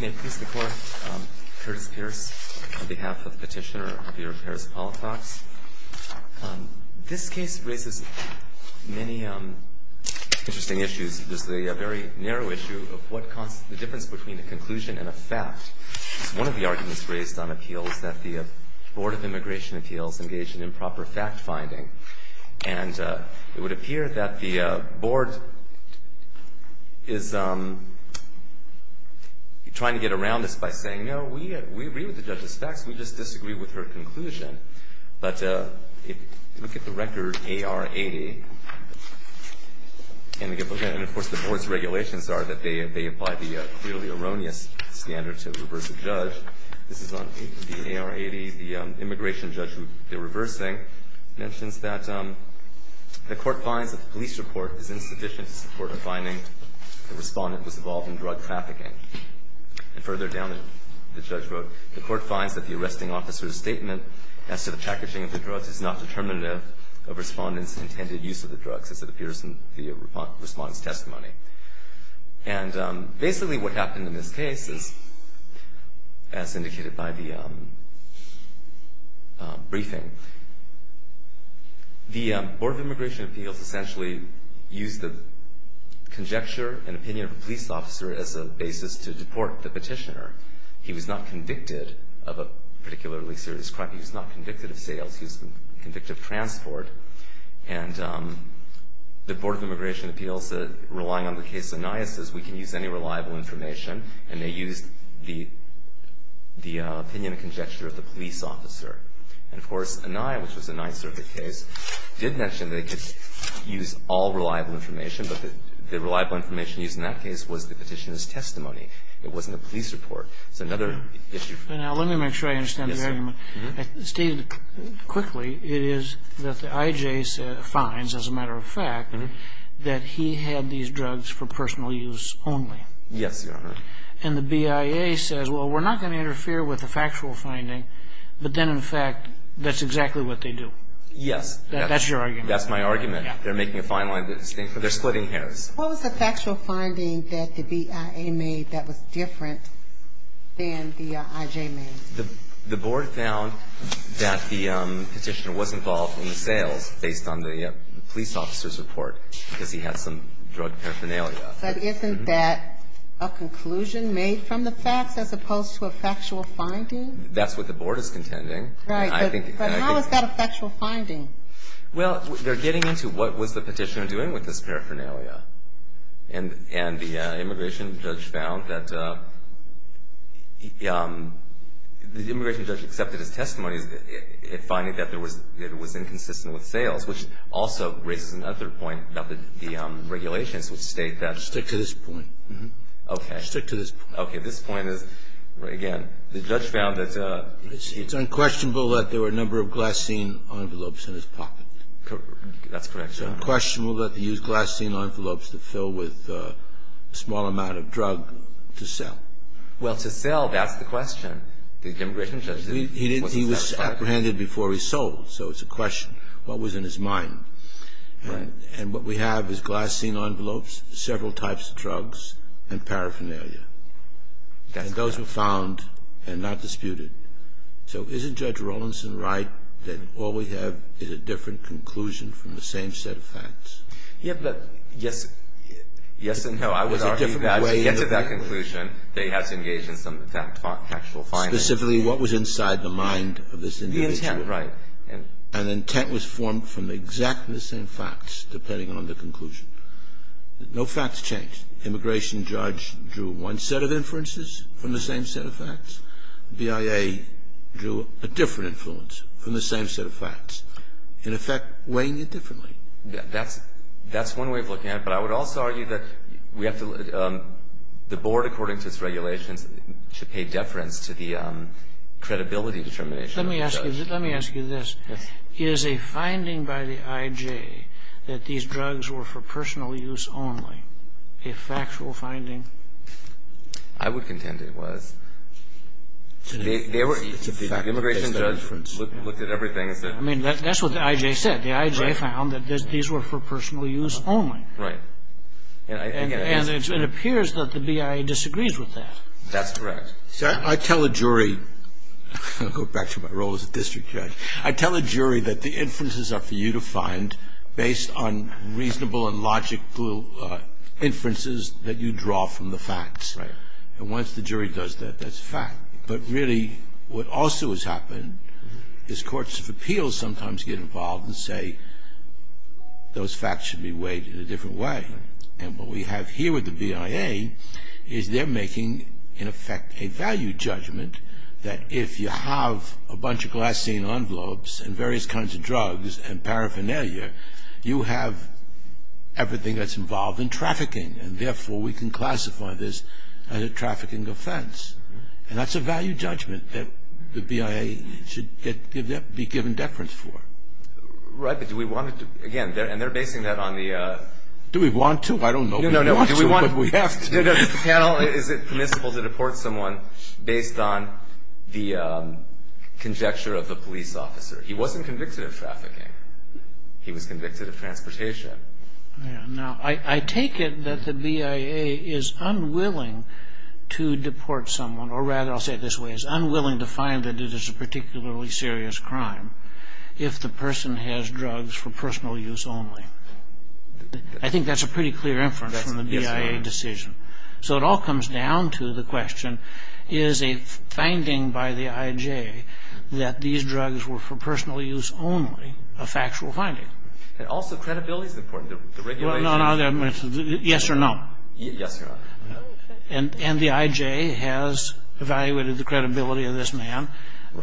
May it please the Court, Curtis Pearce on behalf of Petitioner Javier Perez-Palafox. This case raises many interesting issues. There's the very narrow issue of the difference between a conclusion and a fact. One of the arguments raised on appeal is that the Board of Immigration Appeals engaged in improper fact-finding. And it would appear that the Board is trying to get around this by saying, no, we agree with the judge's facts, we just disagree with her conclusion. But if you look at the record AR-80, and of course the Board's regulations are that they apply the clearly erroneous standard to reverse a judge. This is on the AR-80. The immigration judge who they're reversing mentions that the court finds that the police report is insufficient to support a finding the respondent was involved in drug trafficking. And further down, the judge wrote, the court finds that the arresting officer's statement as to the packaging of the drugs is not determinative of respondent's intended use of the drugs, as it appears in the respondent's testimony. And basically what happened in this case is, as indicated by the briefing, the Board of Immigration Appeals essentially used the conjecture and opinion of a police officer as a basis to deport the petitioner. He was not convicted of a particularly serious crime. He was not convicted of sales. He was convicted of transport. And the Board of Immigration Appeals, relying on the case of Anaya, says we can use any reliable information. And they used the opinion and conjecture of the police officer. And, of course, Anaya, which was a Ninth Circuit case, did mention they could use all reliable information. But the reliable information used in that case was the petitioner's testimony. It wasn't a police report. It's another issue. Now, let me make sure I understand the argument. Yes, sir. Stated quickly, it is that the IJ finds, as a matter of fact, that he had these drugs for personal use only. Yes, Your Honor. And the BIA says, well, we're not going to interfere with the factual finding. But then, in fact, that's exactly what they do. Yes. That's your argument. That's my argument. They're making a fine line. They're splitting hairs. What was the factual finding that the BIA made that was different than the IJ made? The board found that the petitioner was involved in the sales, based on the police officer's report, because he had some drug paraphernalia. But isn't that a conclusion made from the facts, as opposed to a factual finding? That's what the board is contending. Right. But how is that a factual finding? Well, they're getting into what was the petitioner doing with this paraphernalia. And the immigration judge found that the immigration judge accepted his testimony, finding that it was inconsistent with sales, which also raises another point about the regulations, which state that the Stick to this point. Okay. Stick to this point. Okay. This point is, again, the judge found that It's unquestionable that there were a number of glycine envelopes in his pocket. That's correct. It's unquestionable that he used glycine envelopes to fill with a small amount of drug to sell. Well, to sell, that's the question. The immigration judge didn't know what to sell. He was apprehended before he sold, so it's a question. What was in his mind? Right. And what we have is glycine envelopes, several types of drugs, and paraphernalia. And those were found and not disputed. So isn't Judge Rawlinson right that all we have is a different conclusion from the same set of facts? Yes and no. I would argue that he gets at that conclusion that he has to engage in some factual finding. Specifically, what was inside the mind of this individual. The intent, right. An intent was formed from exactly the same facts, depending on the conclusion. No facts changed. Immigration judge drew one set of inferences from the same set of facts. BIA drew a different inference from the same set of facts. In effect, weighing it differently. That's one way of looking at it. But I would also argue that the board, according to its regulations, should pay deference to the credibility determination of the judge. Let me ask you this. Is a finding by the I.J. that these drugs were for personal use only a factual finding? I would contend it was. The immigration judge looked at everything and said. I mean, that's what the I.J. said. The I.J. found that these were for personal use only. Right. And it appears that the BIA disagrees with that. That's correct. I tell a jury. I'll go back to my role as a district judge. I tell a jury that the inferences are for you to find based on reasonable and logical inferences that you draw from the facts. Right. And once the jury does that, that's a fact. But really what also has happened is courts of appeals sometimes get involved and say those facts should be weighed in a different way. And what we have here with the BIA is they're making, in effect, a value judgment that if you have a bunch of glycine envelopes and various kinds of drugs and paraphernalia, you have everything that's involved in trafficking, and therefore we can classify this as a trafficking offense. And that's a value judgment that the BIA should be given deference for. Right, but do we want to, again, and they're basing that on the... Do we want to? I don't know if we want to, but we have to. Is it permissible to deport someone based on the conjecture of the police officer? He wasn't convicted of trafficking. He was convicted of transportation. I take it that the BIA is unwilling to deport someone, or rather I'll say it this way, is unwilling to find that it is a particularly serious crime if the person has drugs for personal use only. I think that's a pretty clear inference from the BIA decision. So it all comes down to the question, is a finding by the IJ that these drugs were for personal use only a factual finding? And also credibility is important. The regulations... Yes or no? Yes, Your Honor. And the IJ has evaluated the credibility of this man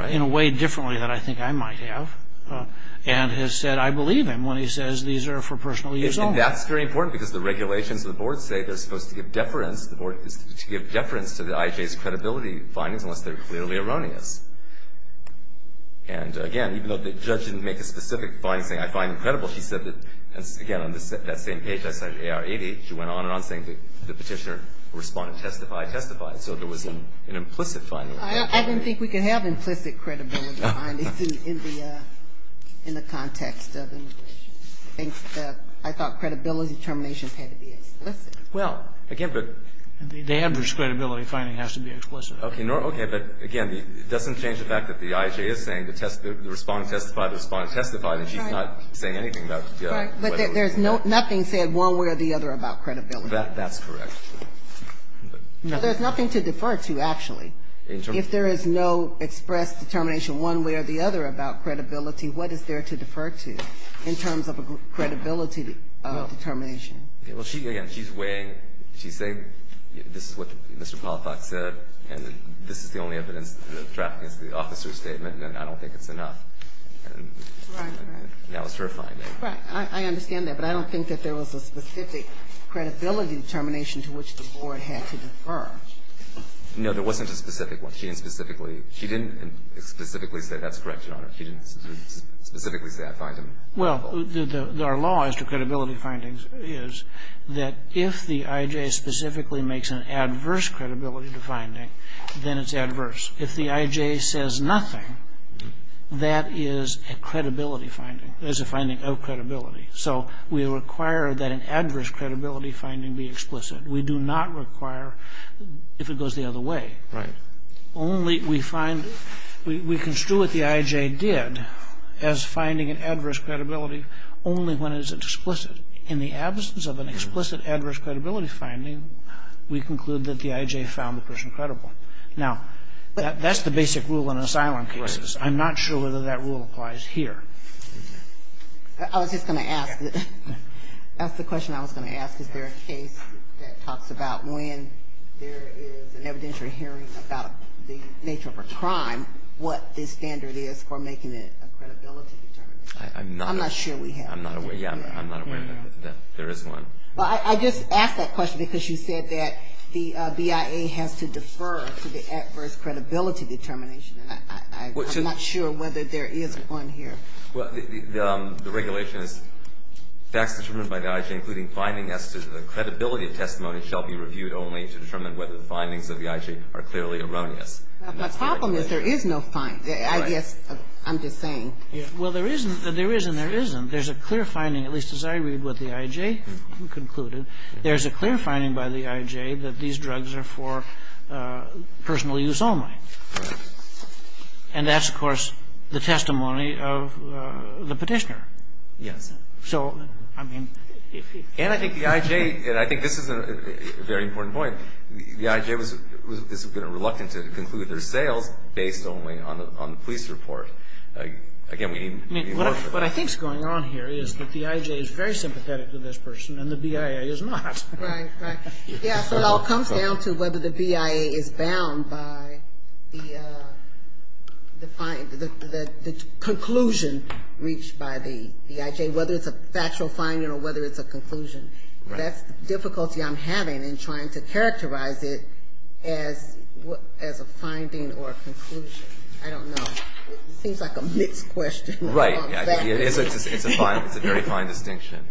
in a way differently than I think I might have and has said I believe him when he says these are for personal use only. And that's very important because the regulations of the Board say they're supposed to give deference... The Board is to give deference to the IJ's credibility findings unless they're clearly erroneous. And, again, even though the judge didn't make a specific finding saying I find him credible, she said that, again, on that same page, I cited AR 88, she went on and on saying that the petitioner responded testify, testify. So there was an implicit finding. I didn't think we could have implicit credibility findings in the context of the regulations. I thought credibility determinations had to be explicit. Well, again, but... The average credibility finding has to be explicit. Okay. But, again, it doesn't change the fact that the IJ is saying the respondent testified, the respondent testified, and she's not saying anything about... Right. But there's nothing said one way or the other about credibility. That's correct. There's nothing to defer to, actually. In terms of... If there is no express determination one way or the other about credibility, what is there to defer to in terms of a credibility determination? No. Well, she, again, she's weighing... She's saying this is what Mr. Polifox said, and this is the only evidence, the trafficking is the officer's statement, and I don't think it's enough. And... Right, right. And that was her finding. Right. to which the Board had to defer. No, there wasn't a specific one. She didn't specifically... She didn't specifically say that's correct, Your Honor. She didn't specifically say that finding. Well, our law as to credibility findings is that if the IJ specifically makes an adverse credibility finding, then it's adverse. If the IJ says nothing, that is a credibility finding. That is a finding of credibility. So we require that an adverse credibility finding be explicit. We do not require if it goes the other way. Right. Only we find, we construe what the IJ did as finding an adverse credibility only when it is explicit. In the absence of an explicit adverse credibility finding, we conclude that the IJ found the person credible. Now, that's the basic rule in asylum cases. Right. I'm not sure whether that rule applies here. I was just going to ask. That's the question I was going to ask. Is there a case that talks about when there is an evidentiary hearing about the nature of a crime, what the standard is for making it a credibility determination? I'm not... I'm not sure we have. I'm not aware... Yeah, I'm not aware that there is one. Well, I just asked that question because you said that the BIA has to defer to the adverse credibility determination. I'm not sure whether there is one here. Well, the regulation is facts determined by the IJ, including findings as to the credibility of testimony, shall be reviewed only to determine whether the findings of the IJ are clearly erroneous. The problem is there is no finding. I guess I'm just saying. Well, there is and there isn't. There's a clear finding, at least as I read what the IJ concluded. There's a clear finding by the IJ that these drugs are for personal use only. Right. And that's, of course, the testimony of the Petitioner. Yes. So, I mean... And I think the IJ, and I think this is a very important point, the IJ has been reluctant to conclude their sales based only on the police report. Again, we need more... What I think is going on here is that the IJ is very sympathetic to this person and the BIA is not. Right, right. Yeah, so it all comes down to whether the BIA is bound by the conclusion reached by the IJ, whether it's a factual finding or whether it's a conclusion. That's the difficulty I'm having in trying to characterize it as a finding or a conclusion. I don't know. It seems like a mixed question. Right. It's a very fine distinction.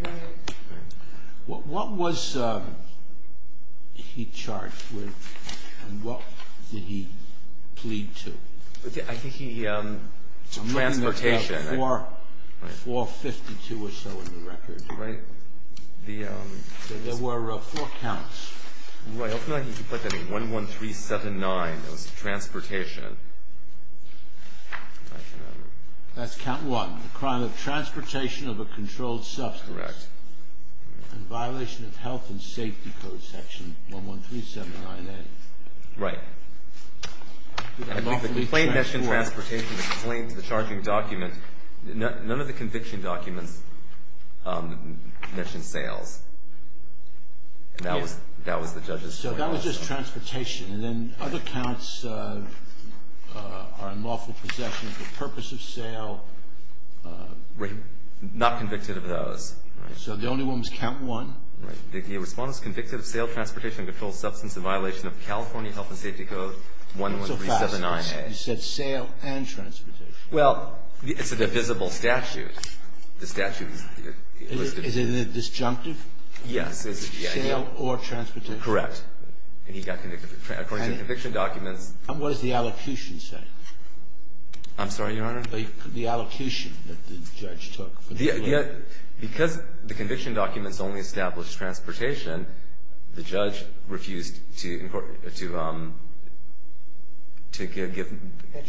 What was he charged with? And what did he plead to? I think he... Transportation. I'm looking at 452 or so in the record. Right. There were four counts. Right. Hopefully I can put that in 11379. It was transportation. That's count one, the crime of transportation of a controlled substance. Correct. And violation of health and safety code section 11379A. Right. And I think the complaint mentioned transportation. The complaint, the charging document, none of the conviction documents mentioned sales. And that was the judge's point also. So that was just transportation. And then other counts are unlawful possession of the purpose of sale. Right. Not convicted of those. Right. So the only one was count one. Right. The respondent is convicted of sale, transportation, and controlled substance in violation of California health and safety code 11379A. You said sale and transportation. Well, it's a divisible statute. The statute is... Is it a disjunctive? Yes. Sale or transportation. And he got convicted. According to the conviction documents... And what does the allocution say? I'm sorry, Your Honor? The allocation that the judge took. Because the conviction documents only established transportation, the judge refused to give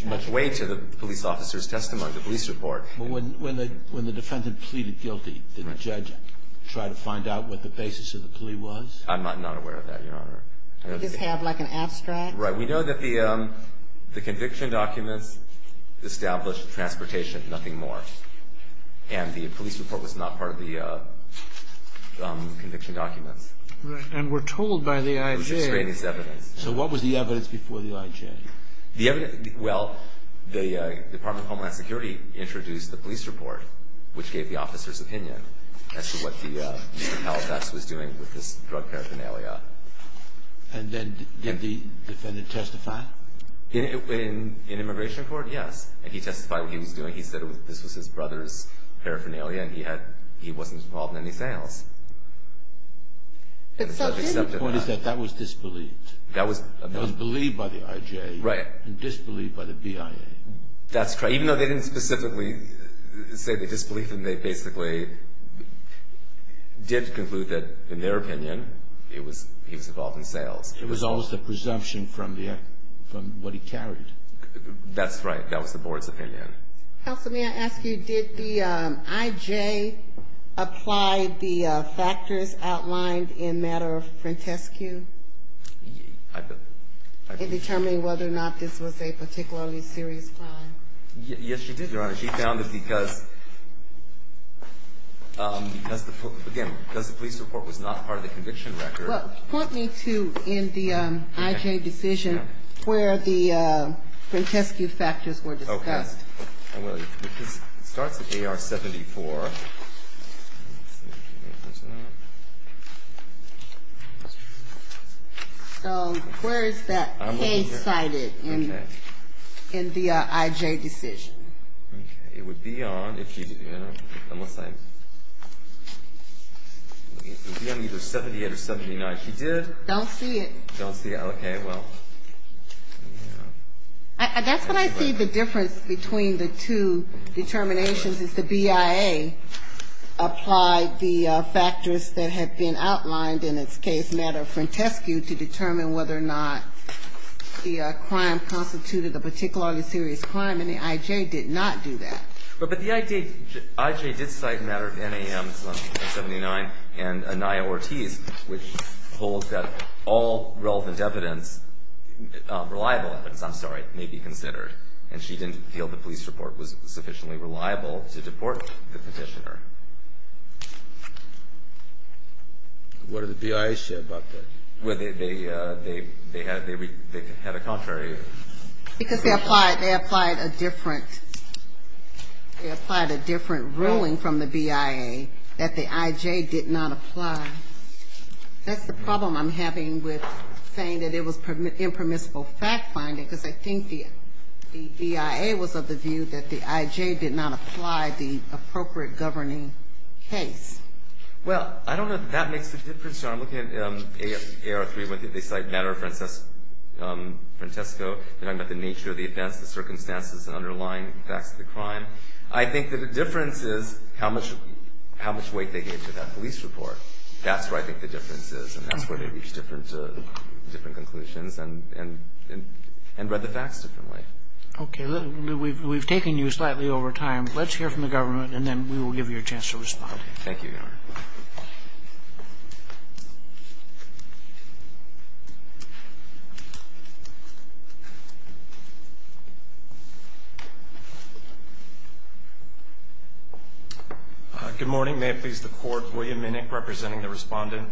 much weight to the police officer's testimony, the police report. When the defendant pleaded guilty, did the judge try to find out what the basis of the plea was? I'm not aware of that, Your Honor. Does this have like an abstract? Right. We know that the conviction documents established transportation, nothing more. And the police report was not part of the conviction documents. Right. And we're told by the IJ... It was extraneous evidence. So what was the evidence before the IJ? The evidence... Well, the Department of Homeland Security introduced the police report, which gave the officer's opinion as to what Mr. Palafax was doing with this drug paraphernalia. And then did the defendant testify? In immigration court, yes. And he testified what he was doing. He said this was his brother's paraphernalia and he wasn't involved in any sales. But the point is that that was disbelieved. That was... It was believed by the IJ... Right. And disbelieved by the BIA. That's correct. Even though they didn't specifically say they disbelieved him, they basically did conclude that, in their opinion, he was involved in sales. It was always the presumption from what he carried. That's right. That was the board's opinion. Counsel, may I ask you, did the IJ apply the factors outlined in Matter of Frantescue... I... Yes, she did, Your Honor. She found that because, again, because the police report was not part of the conviction record... Well, point me to, in the IJ decision, where the Frantescue factors were discussed. Okay. It starts at AR 74. So, where is that K cited in the IJ decision? Okay. It would be on, unless I... It would be on either 78 or 79. If you did... Don't see it. Don't see it. Okay. Well... That's when I see the difference between the two determinations is the BIA. The IJ applied the factors that had been outlined in its case, Matter of Frantescue, to determine whether or not the crime constituted a particularly serious crime. And the IJ did not do that. But the IJ did cite Matter of NAMs on 79 and Anaya Ortiz, which holds that all relevant evidence, reliable evidence, I'm sorry, may be considered. And she didn't feel the police report was sufficiently reliable to deport the petitioner. What did the BIA say about that? Well, they had a contrary. Because they applied a different... They applied a different ruling from the BIA that the IJ did not apply. That's the problem I'm having with saying that it was impermissible fact-finding, because I think the BIA was of the view that the IJ did not apply the appropriate governing case. Well, I don't know if that makes a difference. I'm looking at AR-3. They cite Matter of Frantesco. They're talking about the nature of the events, the circumstances, and underlying facts of the crime. I think that the difference is how much weight they gave to that police report. That's where I think the difference is, and that's where they reach different conclusions and read the facts differently. Okay. We've taken you slightly over time. Let's hear from the government, and then we will give you a chance to respond. Thank you, Your Honor. Good morning. May it please the Court. William Minnick representing the Respondent.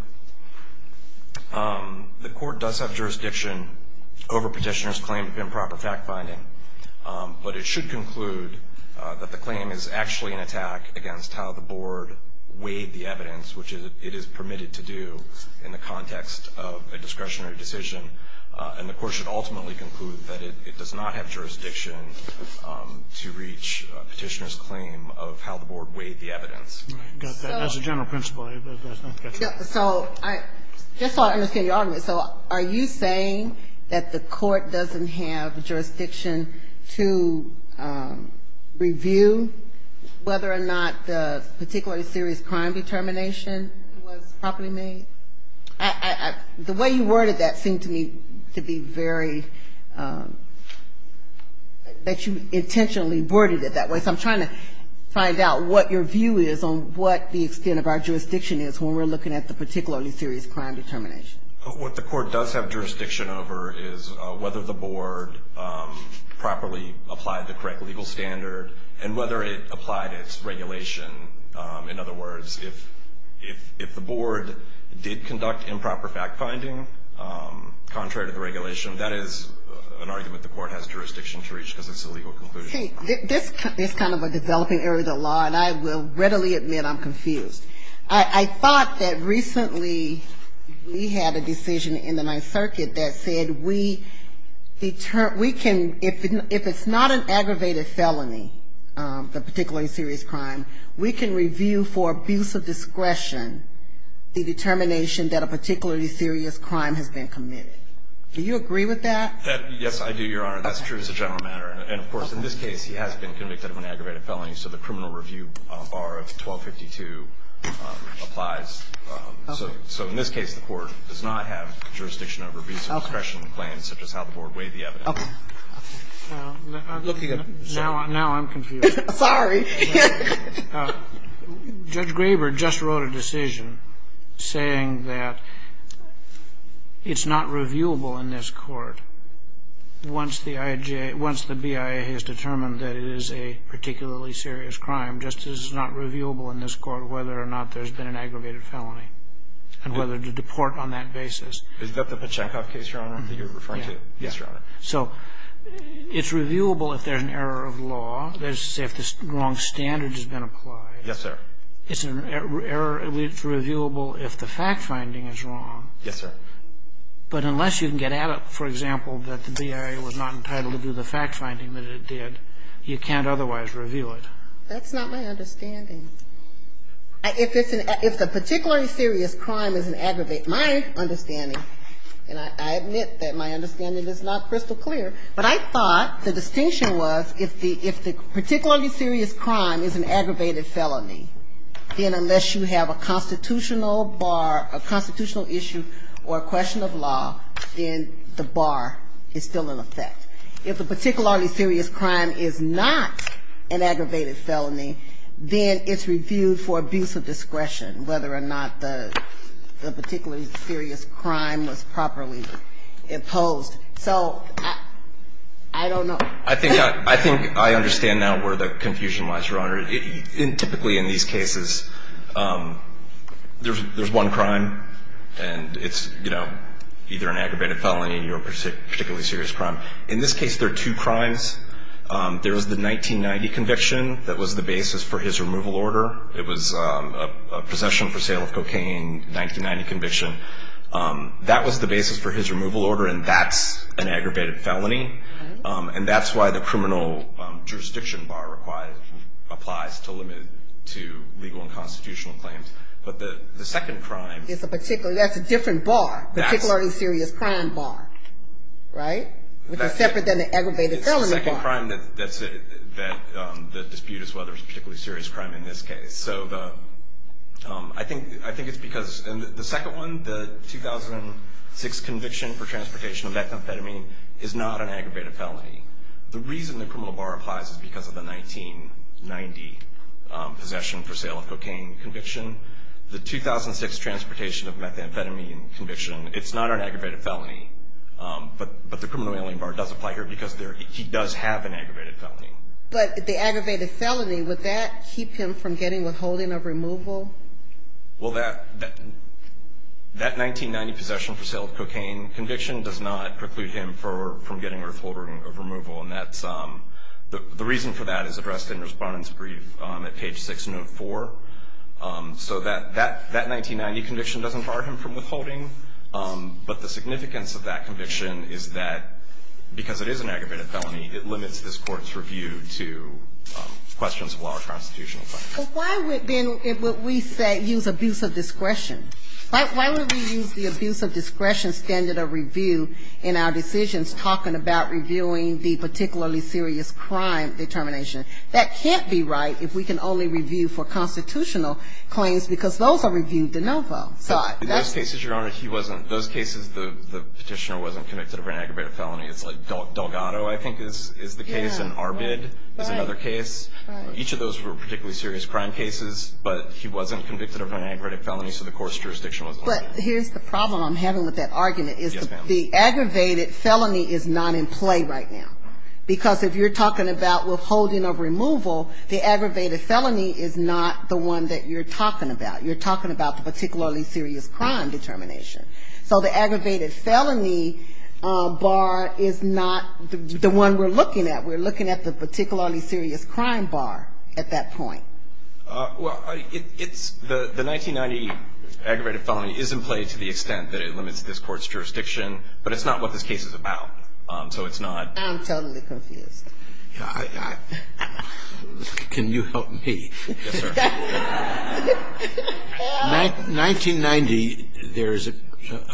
The Court does have jurisdiction over petitioner's claim of improper fact-finding. But it should conclude that the claim is actually an attack against how the Board weighed the evidence, which it is permitted to do in the context of a discretionary decision. And the Court should ultimately conclude that it does not have jurisdiction to reach petitioner's claim of how the Board weighed the evidence. As a general principle, that's not the case. So just so I understand your argument. So are you saying that the Court doesn't have jurisdiction to review whether or not the particularly serious crime determination was properly made? The way you worded that seemed to me to be very – that you intentionally worded it that way. So I'm trying to find out what your view is on what the extent of our jurisdiction is when we're looking at the particularly serious crime determination. What the Court does have jurisdiction over is whether the Board properly applied the correct legal standard and whether it applied its regulation. In other words, if the Board did conduct improper fact-finding contrary to the regulation, that is an argument the Court has jurisdiction to reach because it's a legal conclusion. Okay. This is kind of a developing area of the law, and I will readily admit I'm confused. I thought that recently we had a decision in the Ninth Circuit that said we can – we can review for abuse of discretion the determination that a particularly serious crime has been committed. Do you agree with that? Yes, I do, Your Honor. That's true as a general matter. And, of course, in this case, he has been convicted of an aggravated felony, so the criminal review bar of 1252 applies. So in this case, the Court does not have jurisdiction over abuse of discretion claims, such as how the Board weighed the evidence. Okay. I'm looking at – now I'm confused. Sorry. Judge Graber just wrote a decision saying that it's not reviewable in this Court once the BIA has determined that it is a particularly serious crime, just as it's not reviewable in this Court whether or not there's been an aggravated felony and whether to deport on that basis. Is that the Pachecoff case, Your Honor, that you're referring to? Yes, Your Honor. So it's reviewable if there's an error of law. Let's say if the wrong standard has been applied. Yes, sir. It's reviewable if the fact-finding is wrong. Yes, sir. But unless you can get at it, for example, that the BIA was not entitled to do the fact-finding that it did, you can't otherwise review it. That's not my understanding. If it's a particularly serious crime, it doesn't aggravate my understanding. And I admit that my understanding is not crystal clear. But I thought the distinction was if the particularly serious crime is an aggravated felony, then unless you have a constitutional bar, a constitutional issue or a question of law, then the bar is still in effect. If a particularly serious crime is not an aggravated felony, then it's reviewed for abuse of discretion, whether or not the particularly serious crime was properly imposed. So I don't know. I think I understand now where the confusion lies, Your Honor. Typically in these cases, there's one crime, and it's, you know, either an aggravated felony or a particularly serious crime. In this case, there are two crimes. There was the 1990 conviction that was the basis for his removal order. It was a possession for sale of cocaine, 1990 conviction. That was the basis for his removal order, and that's an aggravated felony. And that's why the criminal jurisdiction bar applies to legal and constitutional claims. But the second crime. It's a particular. That's a different bar, particularly serious crime bar, right, which is separate than the aggravated felony bar. It's the second crime that the dispute is whether it's a particularly serious crime in this case. So I think it's because the second one, the 2006 conviction for transportation of methamphetamine is not an aggravated felony. The reason the criminal bar applies is because of the 1990 possession for sale of cocaine conviction. The 2006 transportation of methamphetamine conviction, it's not an aggravated felony. But the criminal alien bar does apply here because he does have an aggravated felony. But the aggravated felony, would that keep him from getting withholding of removal? Well, that 1990 possession for sale of cocaine conviction does not preclude him from getting withholding of removal, and the reason for that is addressed in Respondent's Brief at page 604. So that 1990 conviction doesn't bar him from withholding, but the significance of that conviction is that because it is an aggravated felony, it limits this Court's review to questions of law or constitutional claims. But why would, then, would we use abuse of discretion? Why would we use the abuse of discretion standard of review in our decisions talking about reviewing the particularly serious crime determination? That can't be right if we can only review for constitutional claims because those are reviewed de novo. In those cases, Your Honor, he wasn't. In those cases, the Petitioner wasn't convicted of an aggravated felony. It's like Delgado, I think, is the case, and Arbid is another case. Each of those were particularly serious crime cases, but he wasn't convicted of an aggravated felony, so the Court's jurisdiction was limited. But here's the problem I'm having with that argument, is the aggravated felony is not in play right now. Because if you're talking about withholding of removal, the aggravated felony is not the one that you're talking about. You're talking about the particularly serious crime determination. So the aggravated felony bar is not the one we're looking at. We're looking at the particularly serious crime bar at that point. Well, it's the 1990 aggravated felony is in play to the extent that it limits this Court's jurisdiction, but it's not what this case is about. So it's not. I'm totally confused. Can you help me? Yes, sir. 1990, there is a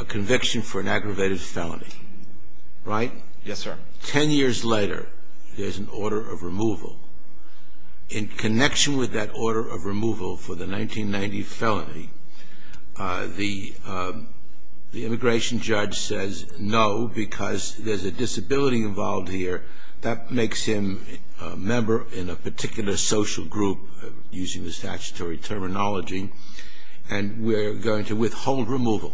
conviction for an aggravated felony, right? Yes, sir. Ten years later, there's an order of removal. In connection with that order of removal for the 1990 felony, the immigration judge says no because there's a disability involved here. That makes him a member in a particular social group, using the statutory terminology, and we're going to withhold removal.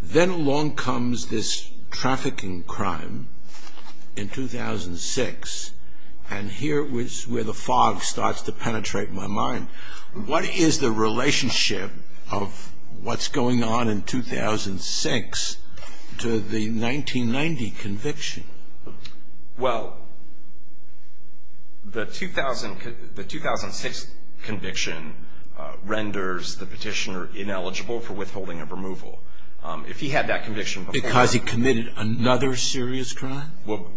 Then along comes this trafficking crime in 2006, and here is where the fog starts to penetrate my mind. What is the relationship of what's going on in 2006 to the 1990 conviction? Well, the 2006 conviction renders the petitioner ineligible for withholding of removal. If he had that conviction before. Because he committed another serious crime? Well,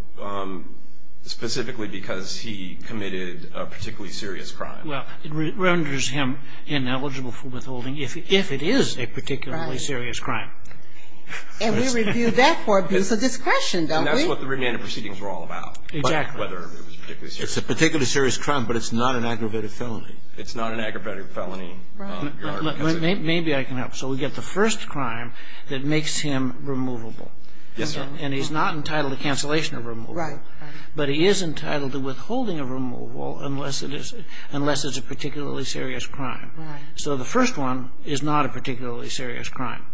specifically because he committed a particularly serious crime. Well, it renders him ineligible for withholding if it is a particularly serious crime. Right. And we review that for abuse of discretion, don't we? And that's what the remanded proceedings were all about. Exactly. Whether it was a particularly serious crime. It's a particularly serious crime, but it's not an aggravated felony. It's not an aggravated felony. Right. Maybe I can help. So we get the first crime that makes him removable. Yes, sir. And he's not entitled to cancellation of removal. Right. But he is entitled to withholding of removal unless it's a particularly serious crime. Right. So the first one is not a particularly serious crime.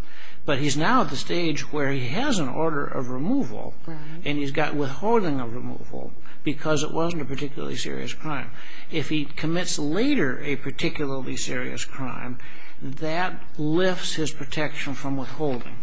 But he's now at the stage where he has an order of removal. Right. And he's got withholding of removal because it wasn't a particularly serious crime. If he commits later a particularly serious crime, that lifts his protection from withholding.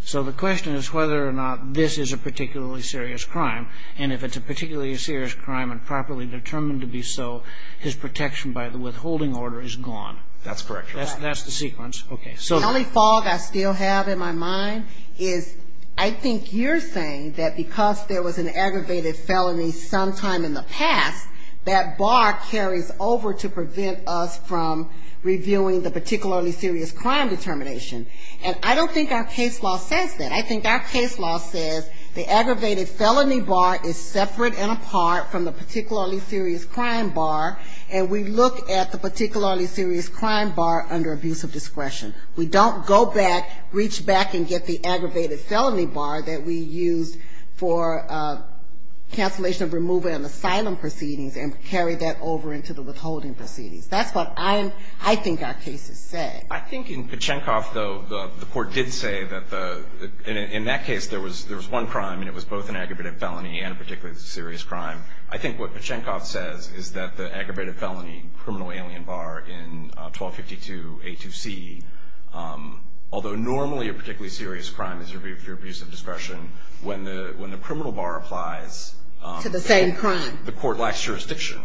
So the question is whether or not this is a particularly serious crime. And if it's a particularly serious crime and properly determined to be so, his protection by the withholding order is gone. That's correct, Your Honor. That's the sequence. Okay. The only fog I still have in my mind is I think you're saying that because there was an aggravated felony sometime in the past, that bar carries over to prevent us from reviewing the particularly serious crime determination. And I don't think our case law says that. I think our case law says the aggravated felony bar is separate and apart from the particularly serious crime bar. And we look at the particularly serious crime bar under abuse of discretion. We don't go back, reach back and get the aggravated felony bar that we used for cancellation of removal in asylum proceedings and carry that over into the withholding proceedings. That's what I think our case has said. I think in Pachenkov, though, the court did say that in that case there was one crime and it was both an aggravated felony and a particularly serious crime. I think what Pachenkov says is that the aggravated felony criminal alien bar in 1252A2C, although normally a particularly serious crime is reviewed through abuse of discretion, when the criminal bar applies, the court lacks jurisdiction.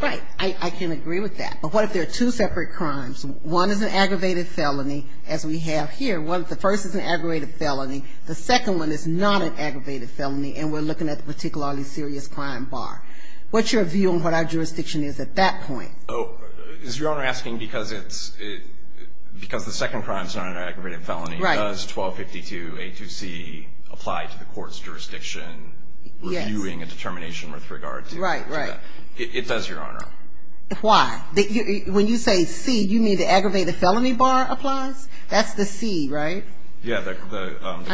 Right. I can agree with that. But what if there are two separate crimes? One is an aggravated felony, as we have here. The first is an aggravated felony. The second one is not an aggravated felony, and we're looking at the particularly serious crime bar. What's your view on what our jurisdiction is at that point? Oh, is Your Honor asking because the second crime is not an aggravated felony, does 1252A2C apply to the court's jurisdiction reviewing a determination with regard to that? Right, right. It does, Your Honor. Why? When you say C, you mean the aggravated felony bar applies? That's the C, right? Yeah, the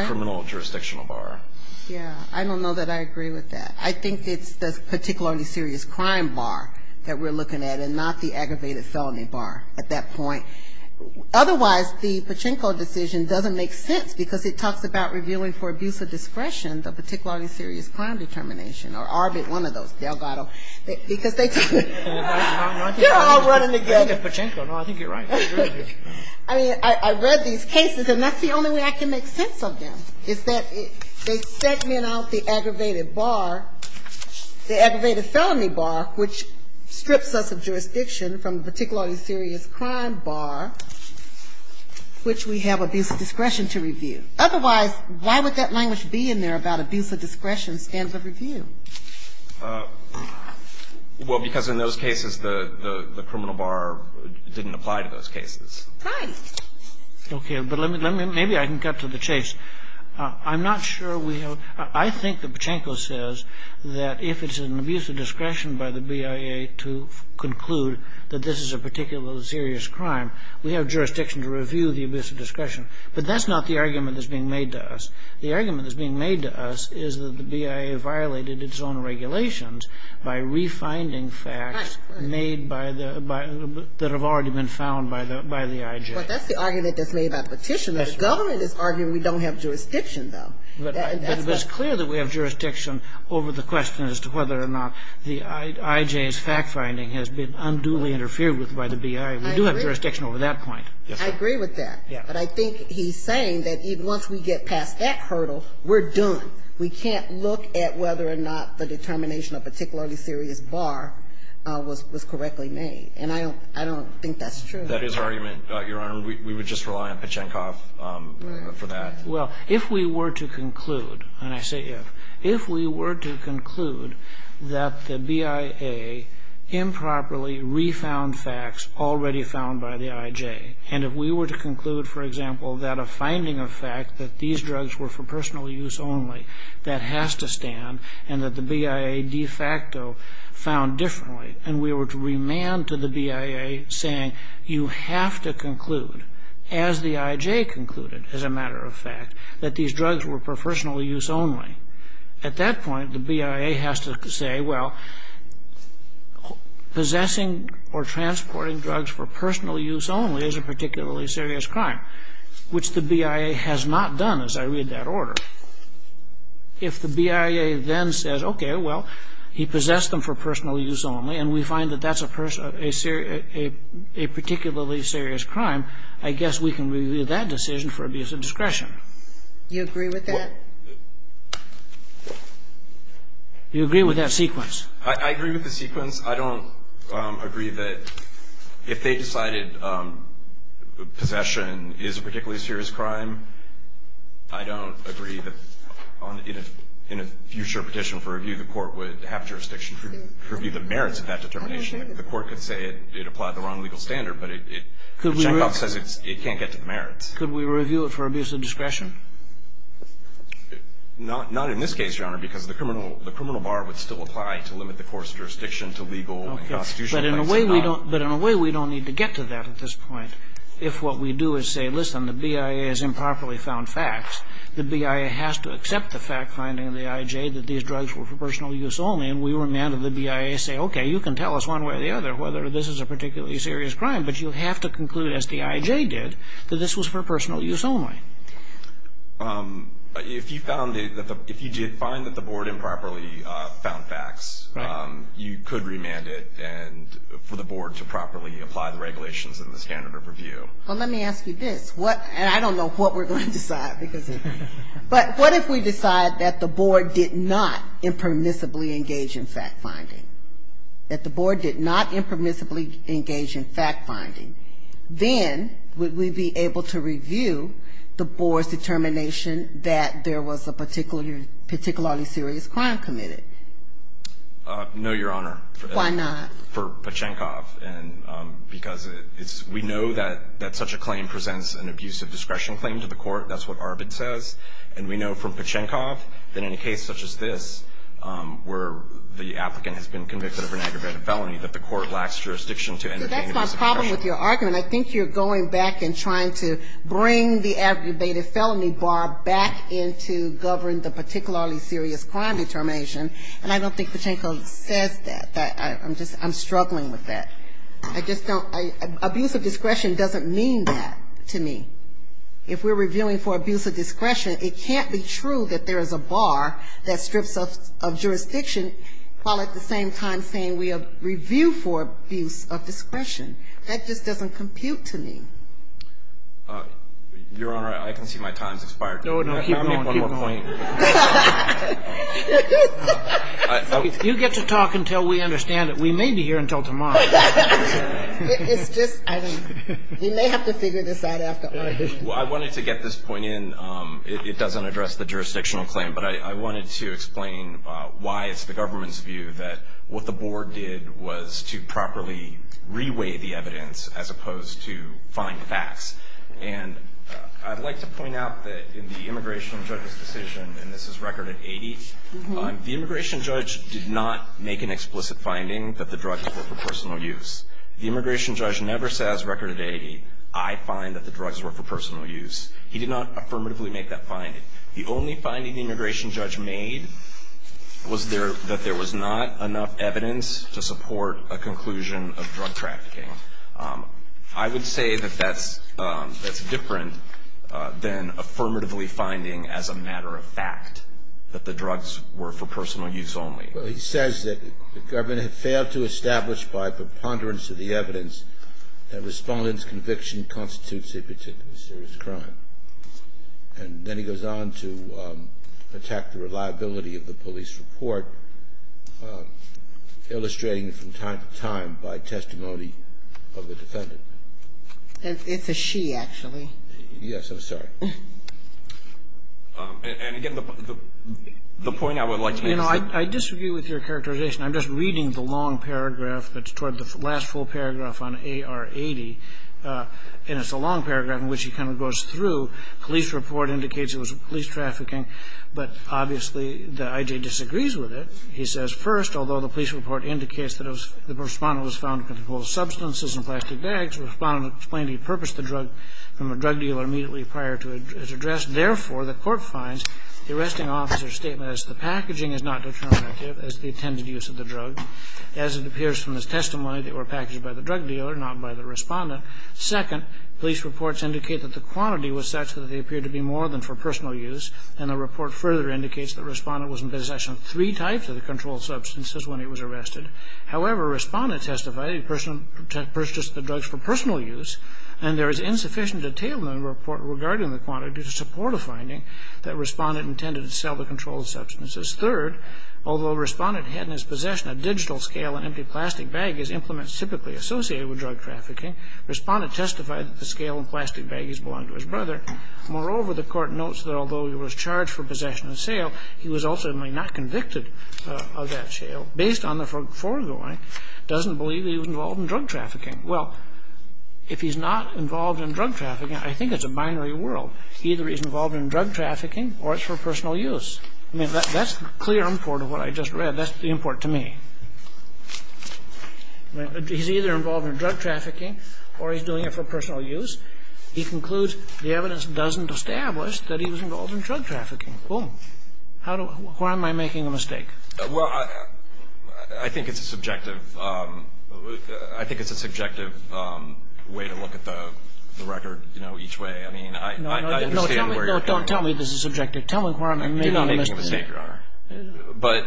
criminal jurisdictional bar. Yeah. I don't know that I agree with that. I think it's the particularly serious crime bar that we're looking at and not the aggravated felony bar at that point. Otherwise, the Pachinko decision doesn't make sense because it talks about reviewing for abuse of discretion the particularly serious crime determination or ARBIT, one of those, Delgado. They're all running together. I think it's Pachinko. No, I think you're right. I mean, I read these cases, and that's the only way I can make sense of them, is that they segment out the aggravated bar, the aggravated felony bar, which strips us of jurisdiction from the particularly serious crime bar, which we have abuse of discretion to review. Otherwise, why would that language be in there about abuse of discretion, standard of review? Well, because in those cases, the criminal bar didn't apply to those cases. Right. Okay. But let me – maybe I can cut to the chase. I'm not sure we have – I think that Pachinko says that if it's an abuse of discretion by the BIA to conclude that this is a particularly serious crime, we have jurisdiction to review the abuse of discretion. But that's not the argument that's being made to us. The argument that's being made to us is that the BIA violated its own regulations by refinding facts made by the – that have already been found by the IJ. But that's the argument that's made by Petitioner. The government is arguing we don't have jurisdiction, though. But it's clear that we have jurisdiction over the question as to whether or not the IJ's fact-finding has been unduly interfered with by the BIA. We do have jurisdiction over that point. I agree with that. But I think he's saying that once we get past that hurdle, we're done. We can't look at whether or not the determination of particularly serious bar was correctly made. And I don't think that's true. That is our argument, Your Honor. We would just rely on Pachinko for that. Well, if we were to conclude, and I say if, if we were to conclude that the BIA improperly found facts already found by the IJ, and if we were to conclude, for example, that a finding of fact that these drugs were for personal use only, that has to stand, and that the BIA de facto found differently, and we were to remand to the BIA, saying you have to conclude, as the IJ concluded, as a matter of fact, that these drugs were for personal use only, at that point the BIA has to say, well, possessing or transporting drugs for personal use only is a particularly serious crime, which the BIA has not done, as I read that order. If the BIA then says, okay, well, he possessed them for personal use only, and we find that that's a particularly serious crime, I guess we can review that decision for abuse of discretion. You agree with that? You agree with that sequence? I agree with the sequence. I don't agree that if they decided possession is a particularly serious crime, I don't agree that in a future petition for review, the Court would have jurisdiction to review the merits of that determination. The Court could say it applied the wrong legal standard, but it can't get to the merits. Could we review it for abuse of discretion? Not in this case, Your Honor, because the criminal bar would still apply to limit the court's jurisdiction to legal and constitutional rights. But in a way we don't need to get to that at this point. If what we do is say, listen, the BIA has improperly found facts, the BIA has to accept the fact finding of the IJ that these drugs were for personal use only, and we remanded the BIA to say, okay, you can tell us one way or the other whether this is a particularly serious crime, but you have to conclude, as the IJ did, that this was for personal use only. If you found it, if you did find that the Board improperly found facts, you could remand it for the Board to properly apply the regulations and the standard of review. Well, let me ask you this, and I don't know what we're going to decide, but what if we decide that the Board did not impermissibly engage in fact finding, that the Board did not impermissibly engage in fact finding, then would we be able to review the Board's determination that there was a particularly serious crime committed? No, Your Honor. Why not? For Pachenkov. Because we know that such a claim presents an abuse of discretion claim to the court. That's what Arvid says. And we know from Pachenkov that in a case such as this, where the applicant has been convicted of an aggravated felony, that the court lacks jurisdiction to intervene in abuse of discretion. So that's my problem with your argument. I think you're going back and trying to bring the aggravated felony bar back into govern the particularly serious crime determination, and I don't think Pachenkov says that. I'm struggling with that. Abuse of discretion doesn't mean that to me. If we're reviewing for abuse of discretion, it can't be true that there is a bar that strips us of jurisdiction, while at the same time saying we have reviewed for abuse of discretion. That just doesn't compute to me. Your Honor, I can see my time has expired. No, no, keep going, keep going. You get to talk until we understand it. We may be here until tomorrow. It's just, I mean, we may have to figure this out after Arvid. Well, I wanted to get this point in. It doesn't address the jurisdictional claim, but I wanted to explain why it's the government's view that what the board did was to properly reweigh the evidence as opposed to find facts. And I'd like to point out that in the immigration judge's decision, and this is record at 80, the immigration judge did not make an explicit finding that the drugs were for personal use. The immigration judge never says record at 80, I find that the drugs were for personal use. He did not affirmatively make that finding. The only finding the immigration judge made was that there was not enough evidence to support a conclusion of drug trafficking. I would say that that's different than affirmatively finding as a matter of fact that the drugs were for personal use only. Well, he says that the government had failed to establish by preponderance of the evidence that a respondent's conviction constitutes a particularly serious crime. And then he goes on to attack the reliability of the police report, illustrating it from time to time by testimony of the defendant. It's a she, actually. Yes. I'm sorry. And again, the point I would like to make is that you know, I disagree with your characterization. I'm just reading the long paragraph that's toward the last full paragraph on AR-80, and it's a long paragraph in which he kind of goes through. Police report indicates it was police trafficking. But obviously the I.J. disagrees with it. He says, first, although the police report indicates that the respondent was found with multiple substances in plastic bags, the respondent explained he purposed the drug from a drug dealer immediately prior to his address. Therefore, the court finds the arresting officer's statement as to the packaging is not determinative as to the intended use of the drug. As it appears from his testimony, they were packaged by the drug dealer, not by the respondent. Second, police reports indicate that the quantity was such that they appeared to be more than for personal use. And the report further indicates the respondent was in possession of three types of the controlled substances when he was arrested. However, respondent testified he purchased the drugs for personal use, and there is insufficient detail in the report regarding the quantity to support a finding that respondent intended to sell the controlled substances. Third, although respondent had in his possession a digital scale in empty plastic baggies, implements typically associated with drug trafficking, respondent testified that the scale and plastic baggies belonged to his brother. Moreover, the court notes that although he was charged for possession and sale, he was also not convicted of that sale based on the foregoing, doesn't believe he was involved in drug trafficking. Well, if he's not involved in drug trafficking, I think it's a binary world. Either he's involved in drug trafficking or it's for personal use. I mean, that's the clear import of what I just read. That's the import to me. He's either involved in drug trafficking or he's doing it for personal use. He concludes the evidence doesn't establish that he was involved in drug trafficking. Boom. How do I – why am I making a mistake? Well, I think it's a subjective – I think it's a subjective way to look at the record, you know, each way. I mean, I understand where you're coming from. No, don't tell me this is subjective. Tell me where I'm making a mistake. You're not making a mistake, Your Honor. But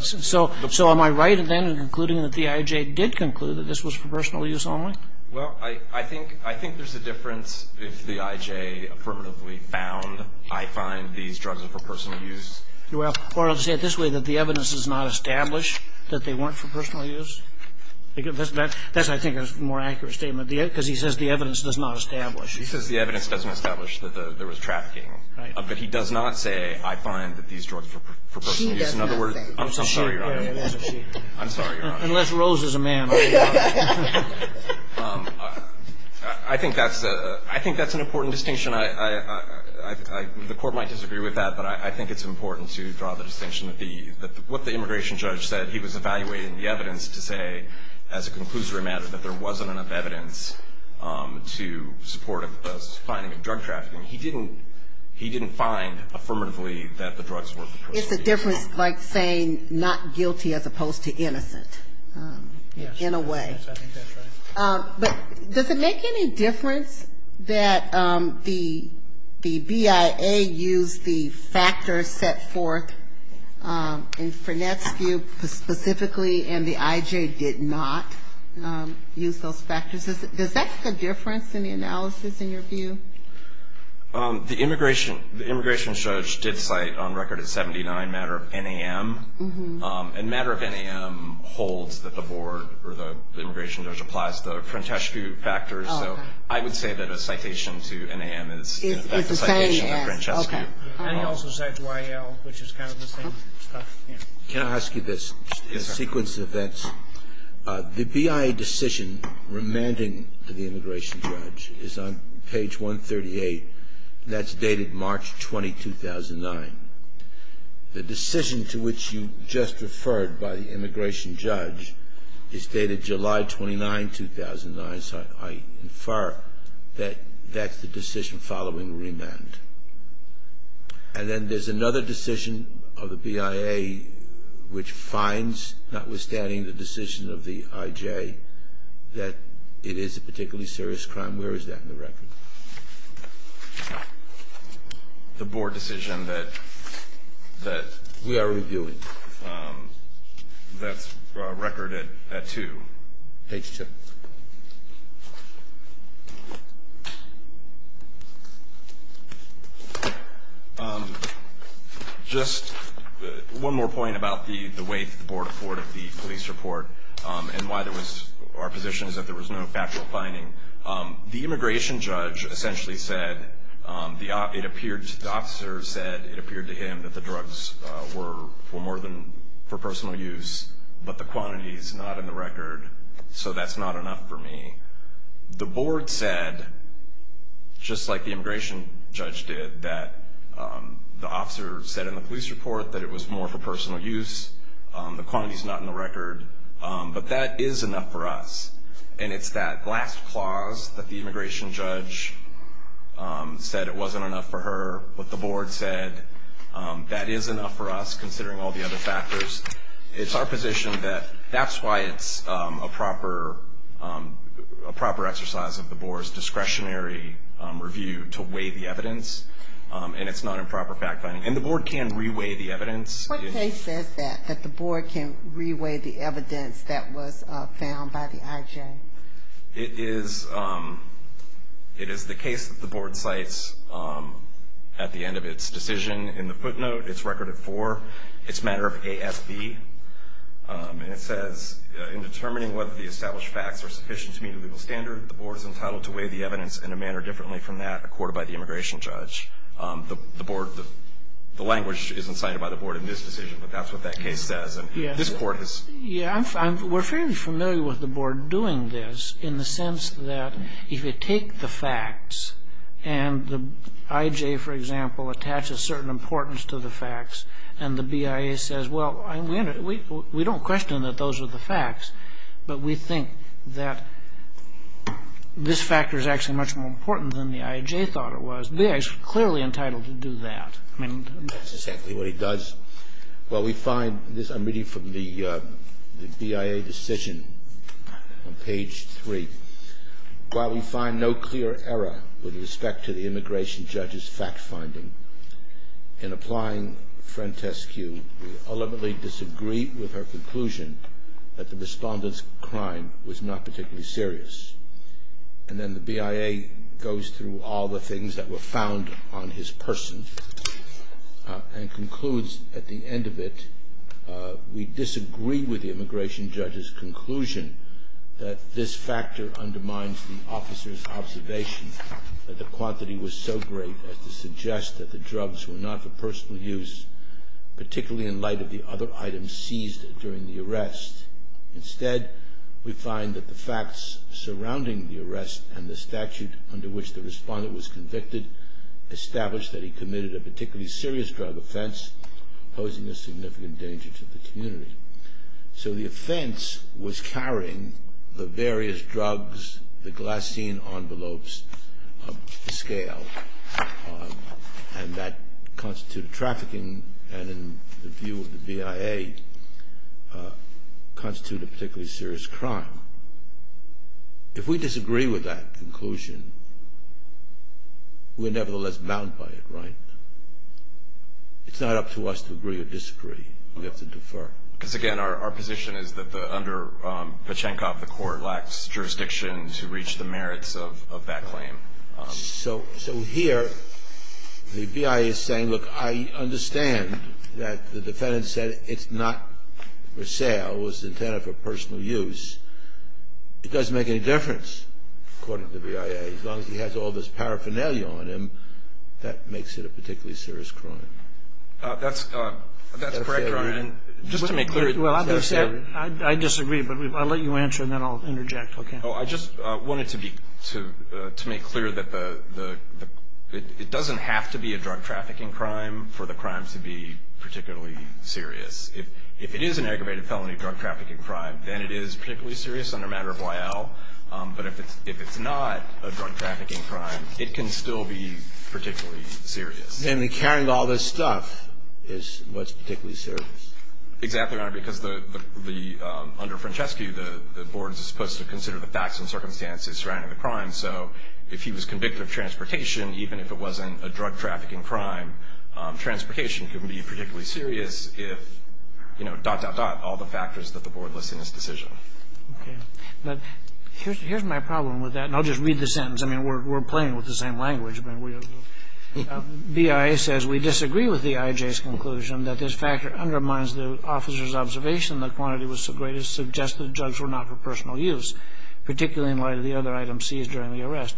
– So am I right then in concluding that the IJ did conclude that this was for personal use only? Well, I think there's a difference if the IJ affirmatively found, I find these drugs are for personal use. Or to say it this way, that the evidence does not establish that they weren't for personal use? That's, I think, a more accurate statement because he says the evidence does not establish. He says the evidence doesn't establish that there was trafficking. Right. But he does not say, I find that these drugs were for personal use. She does not say. I'm sorry, Your Honor. It wasn't she. I'm sorry, Your Honor. Unless Rose is a man. I think that's an important distinction. The Court might disagree with that, but I think it's important to draw the distinction that what the immigration judge said, he was evaluating the evidence to say, as a conclusory matter, that there wasn't enough evidence to support a finding of drug trafficking. He didn't find affirmatively that the drugs were for personal use. It's a difference like saying not guilty as opposed to innocent, in a way. Yes, I think that's right. But does it make any difference that the BIA used the factors set forth in Frenette's view specifically and the IJ did not use those factors? Does that make a difference in the analysis, in your view? The immigration judge did cite, on record at 79, matter of NAM. And matter of NAM holds that the board or the immigration judge applies the Frenette's view factors. So I would say that a citation to NAM is a citation to Frenette's view. And he also cites YAL, which is kind of the same stuff. Can I ask you this in sequence of events? The BIA decision remanding the immigration judge is on page 138. That's dated March 20, 2009. The decision to which you just referred by the immigration judge is dated July 29, 2009. So I infer that that's the decision following remand. And then there's another decision of the BIA which finds, notwithstanding the decision of the IJ, that it is a particularly serious crime. Where is that in the record? The board decision that we are reviewing. That's record at 2. Page 2. Just one more point about the weight that the board afforded the police report and why there was our position is that there was no factual finding. The immigration judge essentially said the officer said it appeared to him that the drugs were more than for personal use, but the quantity is not in the record. So that's not enough for me. The board said, just like the immigration judge did, that the officer said in the police report that it was more for personal use. The quantity is not in the record. But that is enough for us. And it's that last clause that the immigration judge said it wasn't enough for her. But the board said that is enough for us considering all the other factors. It's our position that that's why it's a proper exercise of the board's discretionary review to weigh the evidence. And it's not a proper fact finding. And the board can re-weigh the evidence. What case says that, that the board can re-weigh the evidence that was found by the IJ? It is the case that the board cites at the end of its decision in the footnote. It's record at 4. It's a matter of ASB. And it says, in determining whether the established facts are sufficient to meet a legal standard, the board is entitled to weigh the evidence in a manner differently from that accorded by the immigration judge. The board, the language isn't cited by the board in this decision, but that's what that case says. And this court has ---- Yeah, we're fairly familiar with the board doing this in the sense that if you take the facts and the IJ, for example, attaches certain importance to the facts, and the BIA says, well, we don't question that those are the facts, but we think that this factor is actually much more important than the IJ thought it was, the BIA is clearly entitled to do that. I mean, that's exactly what it does. While we find this ---- I'm reading from the BIA decision on page 3. While we find no clear error with respect to the immigration judge's fact-finding, in applying Frentescu, we ultimately disagree with her conclusion that the respondent's crime was not particularly serious. And then the BIA goes through all the things that were found on his person and concludes at the end of it, we disagree with the immigration judge's conclusion that this factor undermines the officer's observation that the quantity was so great as to suggest that the drugs were not for personal use, particularly in light of the other items seized during the arrest. Instead, we find that the facts surrounding the arrest and the statute under which the respondent was convicted established that he committed a particularly serious drug offense, posing a significant danger to the community. So the offense was carrying the various drugs, the glycine envelopes of the scale, and that constituted trafficking, and in the view of the BIA, constituted a particularly serious crime. If we disagree with that conclusion, we're nevertheless bound by it, right? It's not up to us to agree or disagree. We have to defer. Because again, our position is that under Pachenkov, the court lacks jurisdiction to reach the merits of that claim. So here, the BIA is saying, look, I understand that the defendant said it's not for sale, it was intended for personal use. It doesn't make any difference, according to the BIA, as long as he has all this paraphernalia on him, that makes it a particularly serious crime. That's correct, Your Honor. Just to make clear. I disagree, but I'll let you answer, and then I'll interject. I just wanted to make clear that it doesn't have to be a drug trafficking crime for the crime to be particularly serious. If it is an aggravated felony drug trafficking crime, then it is particularly serious under matter of Y.L., but if it's not a drug trafficking crime, it can still be particularly serious. And carrying all this stuff is what's particularly serious? Exactly, Your Honor, because the under Francescu, the board is supposed to consider the facts and circumstances surrounding the crime. So if he was convicted of transportation, even if it wasn't a drug trafficking crime, transportation can be particularly serious if, you know, dot, dot, dot, all the factors that the board lists in this decision. Okay. But here's my problem with that, and I'll just read the sentence. I mean, we're playing with the same language. BIA says, We disagree with the IJ's conclusion that this factor undermines the officer's observation that quantity was so great as to suggest the drugs were not for personal use, particularly in light of the other items seized during the arrest.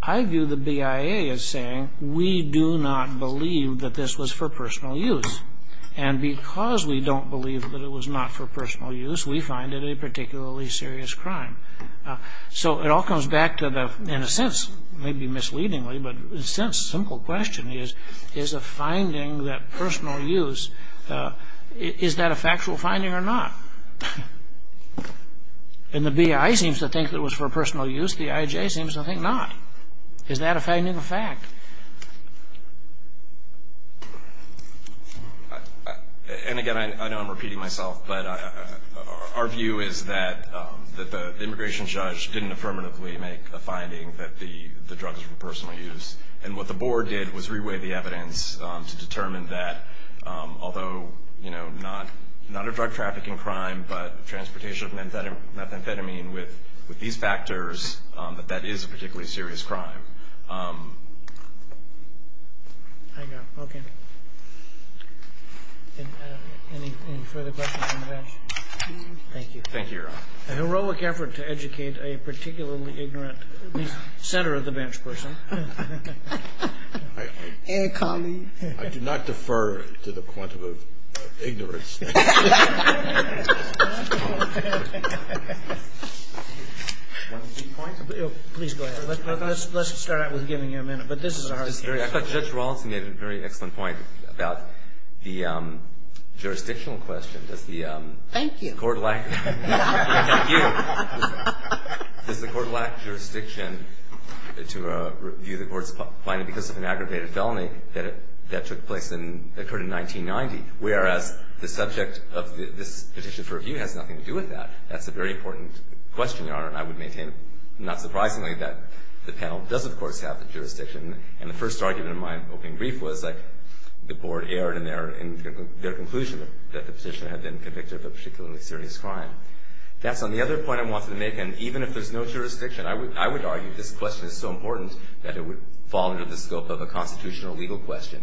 I view the BIA as saying, We do not believe that this was for personal use. And because we don't believe that it was not for personal use, we find it a particularly serious crime. So it all comes back to the, in a sense, maybe misleadingly, but in a sense, simple question is, is a finding that personal use, is that a factual finding or not? And the BIA seems to think it was for personal use. The IJ seems to think not. Is that a fact? And again, I know I'm repeating myself, but our view is that the immigration judge didn't affirmatively make a finding that the drugs were for personal use. And what the board did was reweigh the evidence to determine that, although, you know, not a drug trafficking crime, but transportation of methamphetamine with these factors, that that is a particularly serious crime. I got it. Okay. Any further questions from the bench? Thank you. Thank you, Your Honor. A heroic effort to educate a particularly ignorant center of the bench person. And colleague. I do not defer to the point of ignorance. Please go ahead. Let's start out with giving you a minute. But this is a hard case. I thought Judge Rawlinson made a very excellent point about the jurisdictional question. Thank you. Does the court lack jurisdiction to review the court's finding because of an aggravated felony that took place and occurred in 1990? Whereas the subject of this petition for review has nothing to do with that. That's a very important question, Your Honor. And I would maintain, not surprisingly, that the panel does, of course, have the jurisdiction. And the first argument in my opening brief was the board erred in their conclusion that the petitioner had been convicted of a particularly serious crime. That's on the other point I wanted to make. And even if there's no jurisdiction, I would argue this question is so important that it would be relevant in the scope of a constitutional legal question.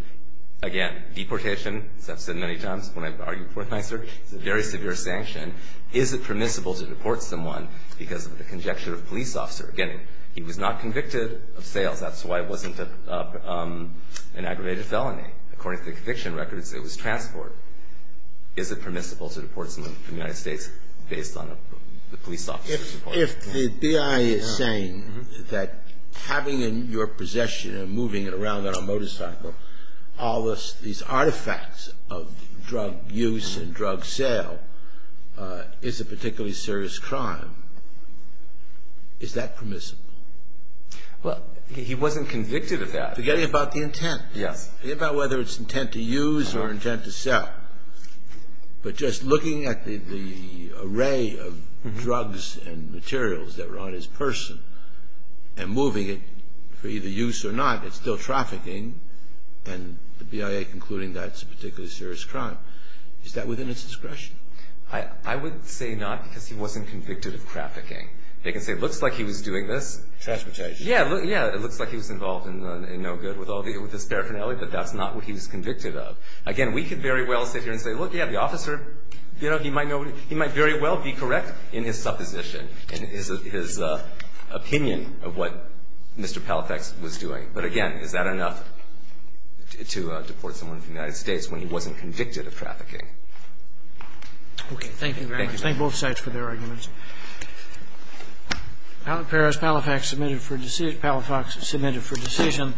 Again, deportation, as I've said many times when I've argued before in my search, is a very severe sanction. Is it permissible to deport someone because of the conjecture of a police officer? Again, he was not convicted of sales. That's why it wasn't an aggravated felony. According to the conviction records, it was transport. Is it permissible to deport someone from the United States based on the police officer's If the BIA is saying that having in your possession and moving it around on a motorcycle all these artifacts of drug use and drug sale is a particularly serious crime, is that permissible? Well, he wasn't convicted of that. Forget about the intent. Yes. Forget about whether it's intent to use or intent to sell. But just looking at the array of drugs and materials that were on his person and moving it for either use or not, it's still trafficking, and the BIA concluding that's a particularly serious crime. Is that within its discretion? I would say not because he wasn't convicted of trafficking. They can say it looks like he was doing this. Transportation. Yes, it looks like he was involved in no good with this paraphernalia, but that's not what he was convicted of. Again, we could very well sit here and say, look, you have the officer. You know, he might very well be correct in his supposition and his opinion of what Mr. Palafax was doing. But again, is that enough to deport someone from the United States when he wasn't convicted of trafficking? Okay. Thank you very much. Thank you. Thank both sides for their arguments. Paris, Palafax submitted for decision.